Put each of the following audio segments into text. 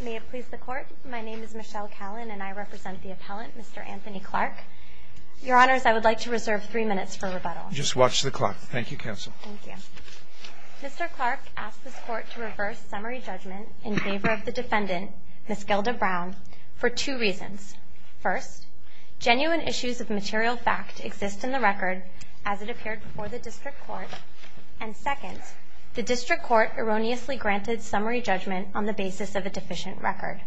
May it please the Court, my name is Michelle Callan and I represent the appellant, Mr. Anthony Clarke. Your Honors, I would like to reserve three minutes for rebuttal. Just watch the clock. Thank you, Counsel. Thank you. Mr. Clarke asked this Court to reverse summary judgment in favor of the defendant, Ms. Gilda Brown, for two reasons. First, genuine issues of material fact exist in the record as it appeared before the District Court. And second, the District Court erroneously granted summary judgment on the basis of a deficient record.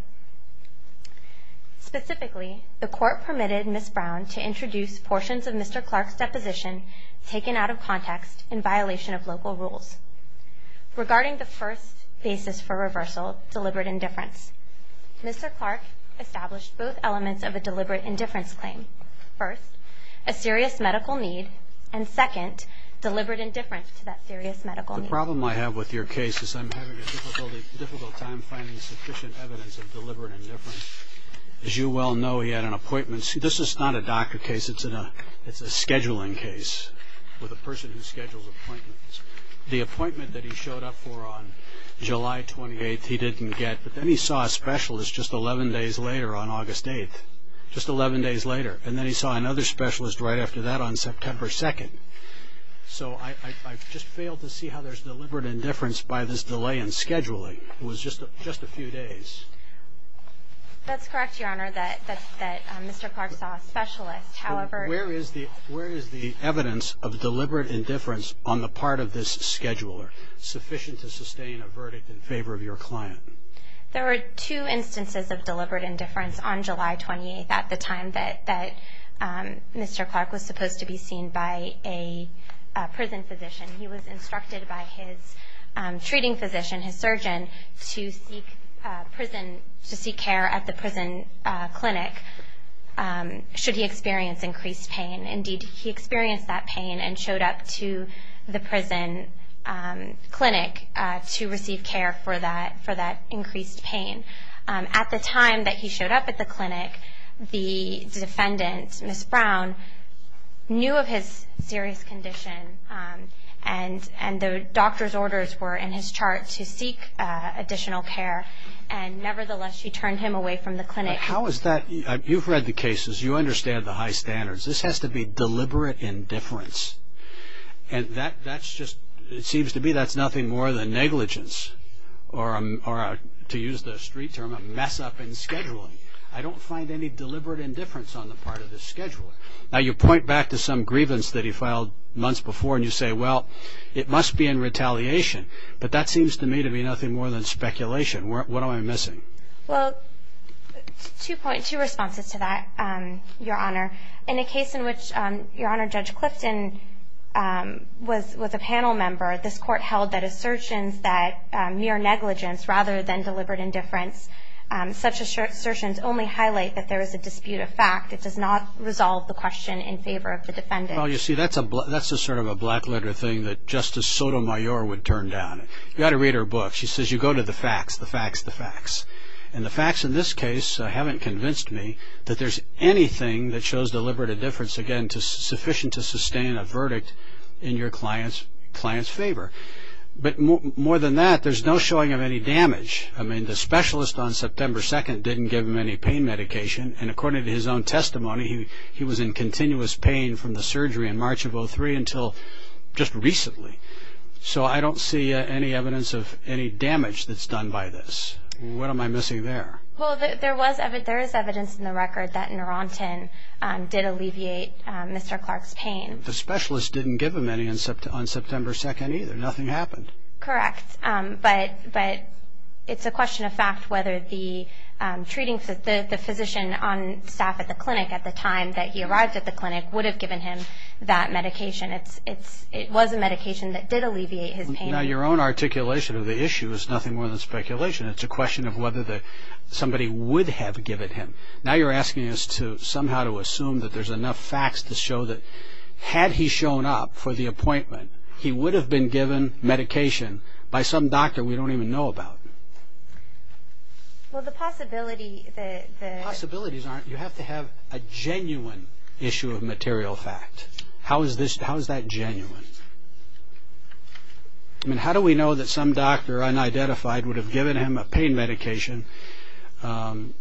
Specifically, the Court permitted Ms. Brown to introduce portions of Mr. Clarke's deposition taken out of context in violation of local rules. Regarding the first basis for reversal, deliberate indifference, Mr. Clarke established both elements of a deliberate indifference claim. First, a serious medical need, and second, deliberate indifference to that serious medical need. The problem I have with your case is I'm having a difficult time finding sufficient evidence of deliberate indifference. As you well know, he had an appointment. See, this is not a doctor case, it's a scheduling case with a person who schedules appointments. The appointment that he showed up for on July 28th he didn't get, but then he saw a specialist just 11 days later on August 8th. Just 11 days later. And then he saw another specialist right after that on September 2nd. So I've just failed to see how there's deliberate indifference by this delay in scheduling. It was just a few days. That's correct, Your Honor, that Mr. Clarke saw a specialist. Where is the evidence of deliberate indifference on the part of this scheduler sufficient to sustain a verdict in favor of your client? There were two instances of deliberate indifference on July 28th at the time that Mr. Clarke was supposed to be seen by a prison physician. He was instructed by his treating physician, his surgeon, to seek care at the prison clinic should he experience increased pain. Indeed, he experienced that pain and showed up to the prison clinic to receive care for that increased pain. At the time that he showed up at the clinic, the defendant, Ms. Brown, knew of his serious condition, and the doctor's orders were in his chart to seek additional care. And nevertheless, she turned him away from the clinic. How is that? You've read the cases. You understand the high standards. This has to be deliberate indifference. And that's just – it seems to me that's nothing more than negligence or, to use the street term, a mess-up in scheduling. I don't find any deliberate indifference on the part of this scheduler. Now, you point back to some grievance that he filed months before, and you say, well, it must be in retaliation. But that seems to me to be nothing more than speculation. What am I missing? Well, two responses to that, Your Honor. In a case in which, Your Honor, Judge Clifton was a panel member, this court held that assertions that mere negligence rather than deliberate indifference, such assertions only highlight that there is a dispute of fact. It does not resolve the question in favor of the defendant. Well, you see, that's a sort of a black-letter thing that Justice Sotomayor would turn down. You ought to read her book. She says you go to the facts, the facts, the facts. And the facts in this case haven't convinced me that there's anything that shows deliberate indifference, again, sufficient to sustain a verdict in your client's favor. But more than that, there's no showing of any damage. I mean, the specialist on September 2nd didn't give him any pain medication, and according to his own testimony, he was in continuous pain from the surgery in March of 2003 until just recently. So I don't see any evidence of any damage that's done by this. What am I missing there? Well, there is evidence in the record that Neurontin did alleviate Mr. Clark's pain. The specialist didn't give him any on September 2nd either. Nothing happened. Correct. But it's a question of fact whether the physician on staff at the clinic at the time that he arrived at the clinic would have given him that medication. It was a medication that did alleviate his pain. Now, your own articulation of the issue is nothing more than speculation. It's a question of whether somebody would have given him. Now you're asking us to somehow to assume that there's enough facts to show that had he shown up for the appointment, he would have been given medication by some doctor we don't even know about. Well, the possibility that the… Possibilities aren't… You have to have a genuine issue of material fact. How is that genuine? I mean, how do we know that some doctor unidentified would have given him a pain medication on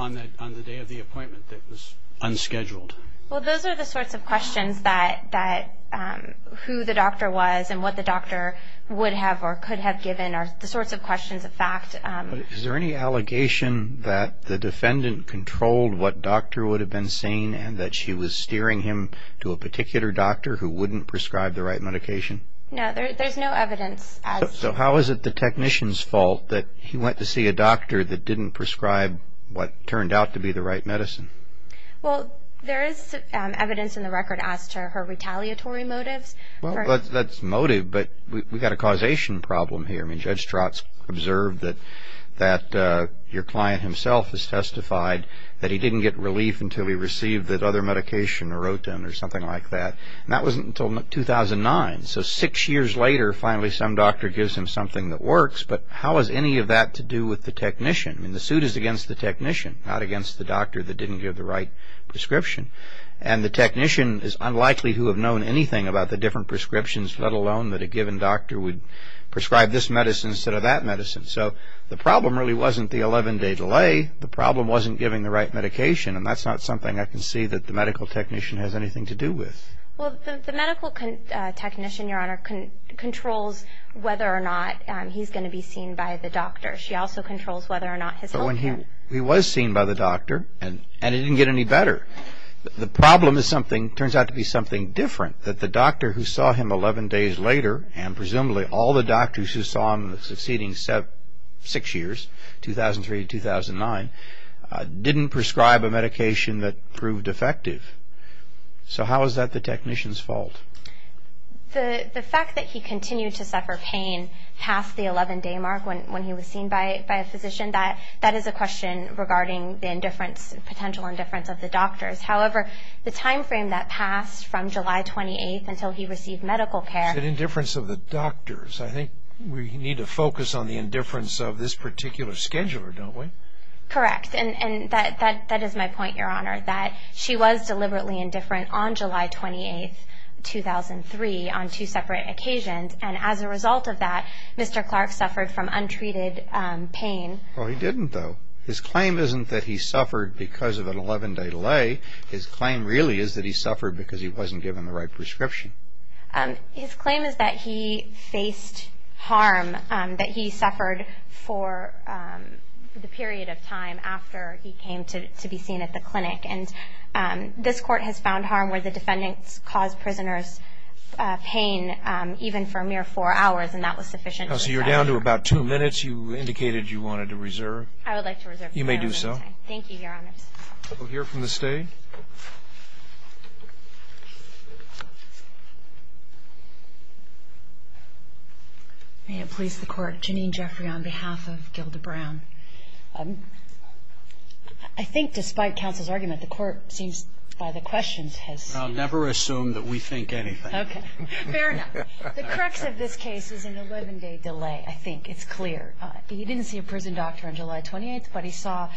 the day of the appointment that was unscheduled? Well, those are the sorts of questions that who the doctor was and what the doctor would have or could have given are the sorts of questions of fact. Is there any allegation that the defendant controlled what doctor would have been saying and that she was steering him to a particular doctor who wouldn't prescribe the right medication? No, there's no evidence. So how is it the technician's fault that he went to see a doctor that didn't prescribe what turned out to be the right medicine? Well, there is evidence in the record as to her retaliatory motives. Well, that's motive, but we've got a causation problem here. I mean, Judge Strotz observed that your client himself has testified that he didn't get relief until he received that other medication or rotin or something like that, and that wasn't until 2009. So six years later, finally some doctor gives him something that works, but how is any of that to do with the technician? I mean, the suit is against the technician, not against the doctor that didn't give the right prescription. And the technician is unlikely to have known anything about the different prescriptions, let alone that a given doctor would prescribe this medicine instead of that medicine. So the problem really wasn't the 11-day delay. The problem wasn't giving the right medication, and that's not something I can see that the medical technician has anything to do with. Well, the medical technician, Your Honor, controls whether or not he's going to be seen by the doctor. She also controls whether or not his health care. He was seen by the doctor, and it didn't get any better. The problem is something that turns out to be something different, that the doctor who saw him 11 days later, and presumably all the doctors who saw him the succeeding six years, 2003 to 2009, didn't prescribe a medication that proved effective. So how is that the technician's fault? The fact that he continued to suffer pain past the 11-day mark when he was seen by a physician, that is a question regarding the potential indifference of the doctors. However, the time frame that passed from July 28th until he received medical care. The indifference of the doctors. I think we need to focus on the indifference of this particular scheduler, don't we? Correct, and that is my point, Your Honor, that she was deliberately indifferent on July 28th, 2003, on two separate occasions, and as a result of that, Mr. Clark suffered from untreated pain. Well, he didn't, though. His claim isn't that he suffered because of an 11-day delay. His claim really is that he suffered because he wasn't given the right prescription. His claim is that he faced harm, that he suffered for the period of time after he came to be seen at the clinic, and this Court has found harm where the defendants caused prisoners pain even for a mere four hours, and that was sufficient. So you're down to about two minutes. You indicated you wanted to reserve. I would like to reserve. You may do so. Thank you, Your Honor. We'll hear from the State. May it please the Court. Janine Jeffrey on behalf of Gilda Brown. I think despite counsel's argument, the Court seems by the questions has seen it. I'll never assume that we think anything. Okay. Fair enough. The crux of this case is an 11-day delay, I think. It's clear. He didn't see a prison doctor on July 28th, but he saw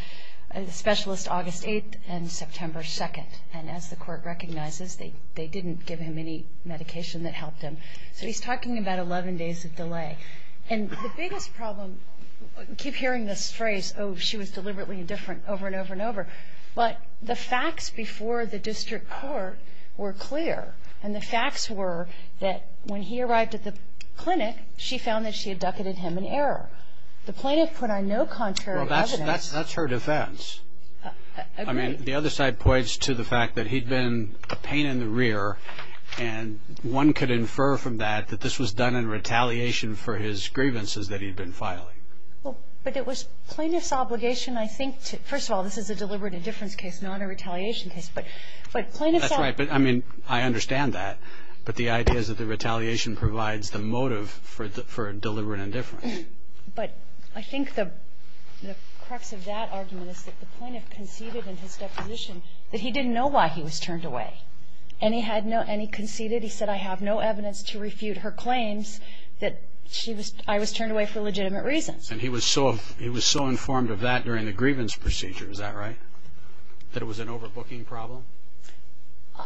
a specialist August 8th and September 2nd, and as the Court recognizes, they didn't give him any medication that helped him. So he's talking about 11 days of delay. And the biggest problem, keep hearing this phrase, oh, she was deliberately indifferent over and over and over, but the facts before the district court were clear, and the facts were that when he arrived at the clinic, she found that she had ducated him in error. The plaintiff put on no contrary evidence. Well, that's her defense. Agreed. I mean, the other side points to the fact that he'd been a pain in the rear, and one could infer from that that this was done in retaliation for his grievances that he'd been filing. Well, but it was plaintiff's obligation, I think. First of all, this is a deliberate indifference case, not a retaliation case. But plaintiff's obligation. That's right, but, I mean, I understand that. But the idea is that the retaliation provides the motive for deliberate indifference. But I think the crux of that argument is that the plaintiff conceded in his deposition that he didn't know why he was turned away, and he conceded, he said, I have no evidence to refute her claims that I was turned away for legitimate reasons. And he was so informed of that during the grievance procedure, is that right? That it was an overbooking problem?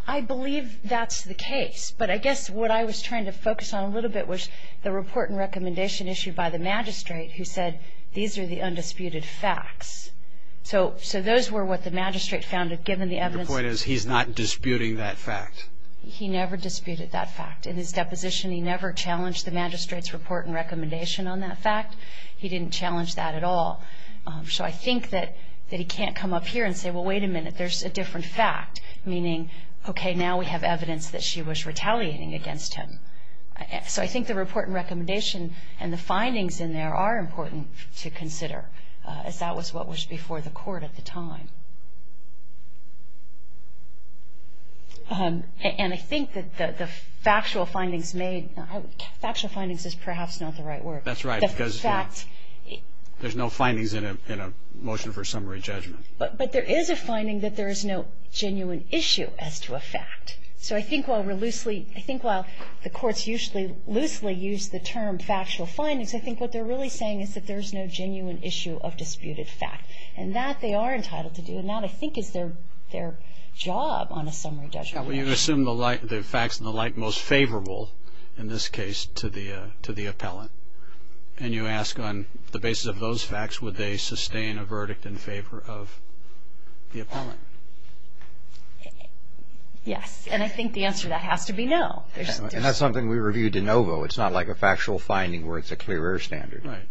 I believe that's the case. But I guess what I was trying to focus on a little bit was the report and recommendation issued by the magistrate who said these are the undisputed facts. So those were what the magistrate found, given the evidence. Your point is he's not disputing that fact. He never disputed that fact. In his deposition, he never challenged the magistrate's report and recommendation on that fact. He didn't challenge that at all. So I think that he can't come up here and say, well, wait a minute, there's a different fact, meaning, okay, now we have evidence that she was retaliating against him. So I think the report and recommendation and the findings in there are important to consider, as that was what was before the court at the time. And I think that the factual findings made, factual findings is perhaps not the right word. That's right. There's no findings in a motion for summary judgment. But there is a finding that there is no genuine issue as to a fact. So I think while we're loosely, I think while the courts usually loosely use the term factual findings, I think what they're really saying is that there's no genuine issue of disputed fact. And that they are entitled to do. And that, I think, is their job on a summary judgment. You assume the facts and the like most favorable, in this case, to the appellant. And you ask on the basis of those facts, would they sustain a verdict in favor of the appellant? Yes. And I think the answer to that has to be no. And that's something we reviewed in OVO. It's not like a factual finding where it's a clear air standard. Right.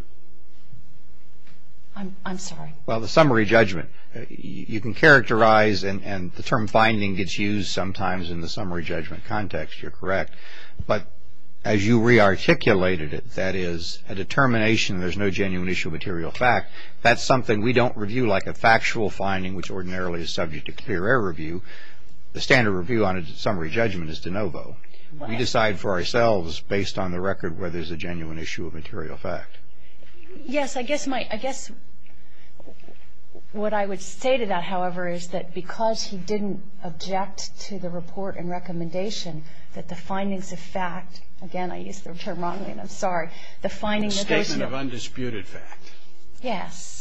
I'm sorry. Well, the summary judgment. You can characterize and the term finding gets used sometimes in the summary judgment context. You're correct. But as you re-articulated it, that is, a determination there's no genuine issue of material fact, that's something we don't review like a factual finding, which ordinarily is subject to clear air review. The standard review on a summary judgment is de novo. We decide for ourselves based on the record whether there's a genuine issue of material fact. Yes. I guess my – I guess what I would say to that, however, is that because he didn't object to the report and recommendation that the findings of fact – again, I used the term wrongly, and I'm sorry – the findings of those – The statement of undisputed fact. Yes.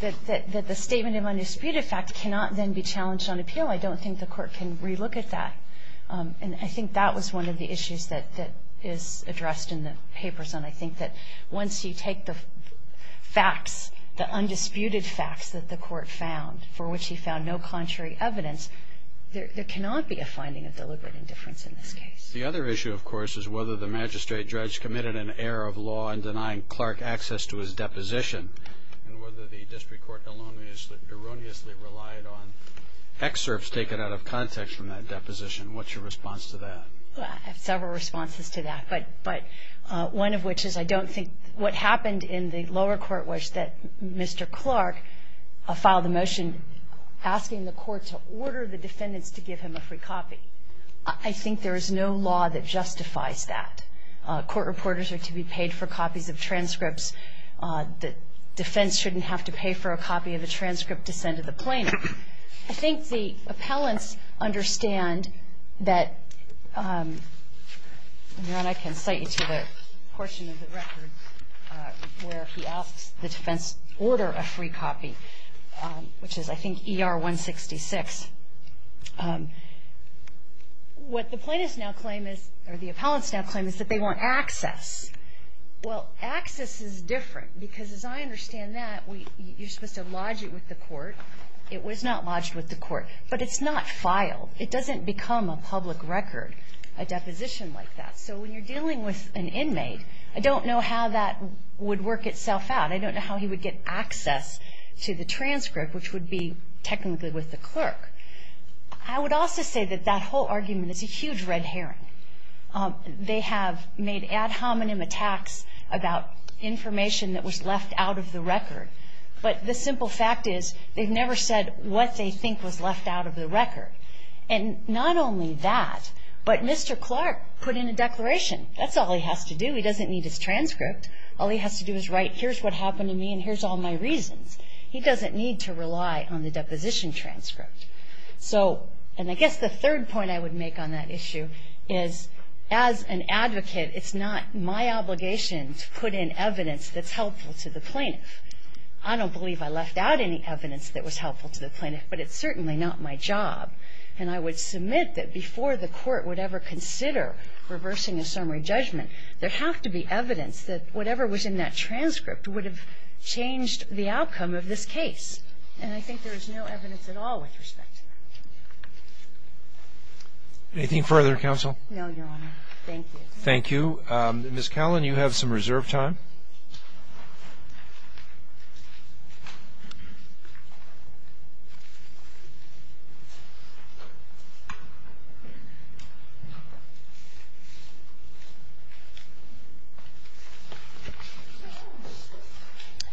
That the statement of undisputed fact cannot then be challenged on appeal. I don't think the Court can re-look at that. And I think that was one of the issues that is addressed in the papers. And I think that once you take the facts, the undisputed facts that the Court found for which he found no contrary evidence, there cannot be a finding of deliberate indifference in this case. The other issue, of course, is whether the magistrate judge committed an error of law in denying Clark access to his deposition and whether the district court erroneously relied on excerpts taken out of context from that deposition. What's your response to that? I have several responses to that. But one of which is I don't think – what happened in the lower court was that Mr. Clark filed a motion asking the Court to order the defendants to give him a free copy. I think there is no law that justifies that. Court reporters are to be paid for copies of transcripts. The defense shouldn't have to pay for a copy of a transcript to send to the plaintiff. I think the appellants understand that – and, Your Honor, I can cite you to the portion of the record where he asks the defense to order a free copy, which is, I think, ER-166. What the plaintiffs now claim is – or the appellants now claim is that they want access. Well, access is different because, as I understand that, you're supposed to lodge it with the court. It was not lodged with the court. But it's not filed. It doesn't become a public record, a deposition like that. So when you're dealing with an inmate, I don't know how that would work itself out. I don't know how he would get access to the transcript, which would be technically with the clerk. I would also say that that whole argument is a huge red herring. They have made ad hominem attacks about information that was left out of the record. But the simple fact is they've never said what they think was left out of the record. And not only that, but Mr. Clark put in a declaration. That's all he has to do. He doesn't need his transcript. All he has to do is write, here's what happened to me and here's all my reasons. He doesn't need to rely on the deposition transcript. And I guess the third point I would make on that issue is as an advocate, it's not my obligation to put in evidence that's helpful to the plaintiff. I don't believe I left out any evidence that was helpful to the plaintiff, but it's certainly not my job. And I would submit that before the court would ever consider reversing a summary judgment, there has to be evidence that whatever was in that transcript would have changed the outcome of this case. And I think there is no evidence at all with respect to that. Anything further, Counsel? No, Your Honor. Thank you. Thank you. Ms. Callan, you have some reserved time.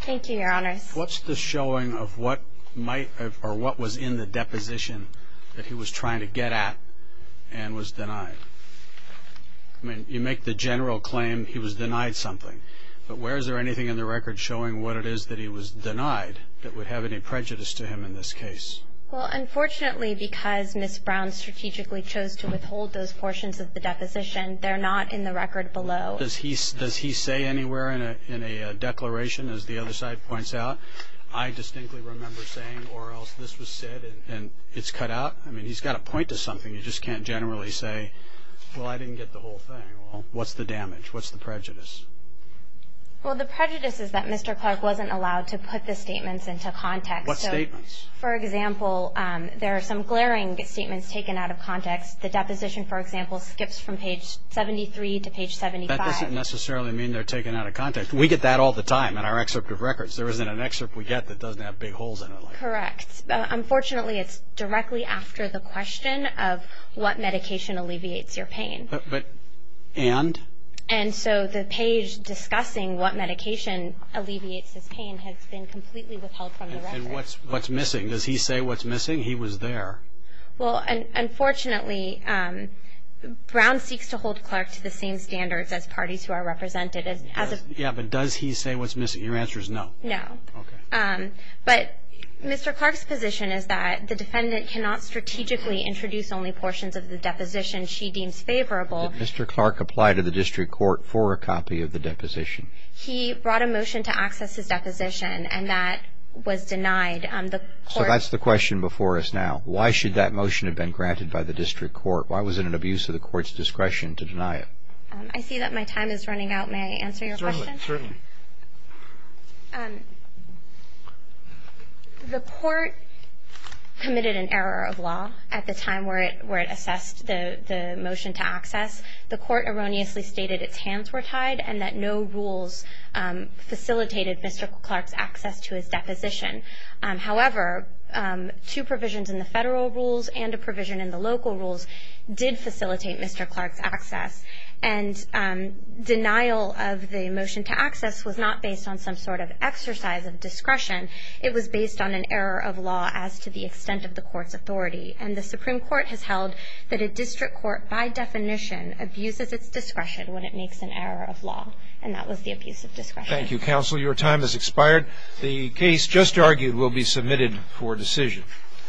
Thank you, Your Honors. What's the showing of what was in the deposition that he was trying to get at and was denied? I mean, you make the general claim he was denied something, but where is there anything in the record showing what it is that he was denied that would have any prejudice to him in this case? Well, unfortunately, because Ms. Brown strategically chose to withhold those portions of the deposition, they're not in the record below. Does he say anywhere in a declaration, as the other side points out, I distinctly remember saying or else this was said and it's cut out? I mean, he's got to point to something. You just can't generally say, well, I didn't get the whole thing. What's the damage? What's the prejudice? Well, the prejudice is that Mr. Clark wasn't allowed to put the statements into context. What statements? For example, there are some glaring statements taken out of context. The deposition, for example, skips from page 73 to page 75. That doesn't necessarily mean they're taken out of context. We get that all the time in our excerpt of records. There isn't an excerpt we get that doesn't have big holes in it. Correct. Unfortunately, it's directly after the question of what medication alleviates your pain. But and? And so the page discussing what medication alleviates his pain has been completely withheld from the record. And what's missing? Does he say what's missing? He was there. Well, unfortunately, Brown seeks to hold Clark to the same standards as parties who are represented. Yeah, but does he say what's missing? Your answer is no. No. Okay. But Mr. Clark's position is that the defendant cannot strategically introduce only portions of the deposition she deems favorable. Did Mr. Clark apply to the district court for a copy of the deposition? He brought a motion to access his deposition, and that was denied. So that's the question before us now. Why should that motion have been granted by the district court? Why was it an abuse of the court's discretion to deny it? I see that my time is running out. May I answer your question? Certainly. The court committed an error of law at the time where it assessed the motion to access. The court erroneously stated its hands were tied and that no rules facilitated Mr. Clark's access to his deposition. However, two provisions in the federal rules and a provision in the local rules did facilitate Mr. Clark's access, and denial of the motion to access was not based on some sort of exercise of discretion. It was based on an error of law as to the extent of the court's authority, and the Supreme Court has held that a district court, by definition, abuses its discretion when it makes an error of law, and that was the abuse of discretion. Thank you, counsel. Your time has expired. The case just argued will be submitted for decision.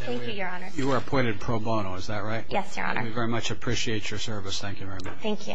Thank you, Your Honor. You are appointed pro bono, is that right? Yes, Your Honor. We very much appreciate your service. Thank you very much. Thank you.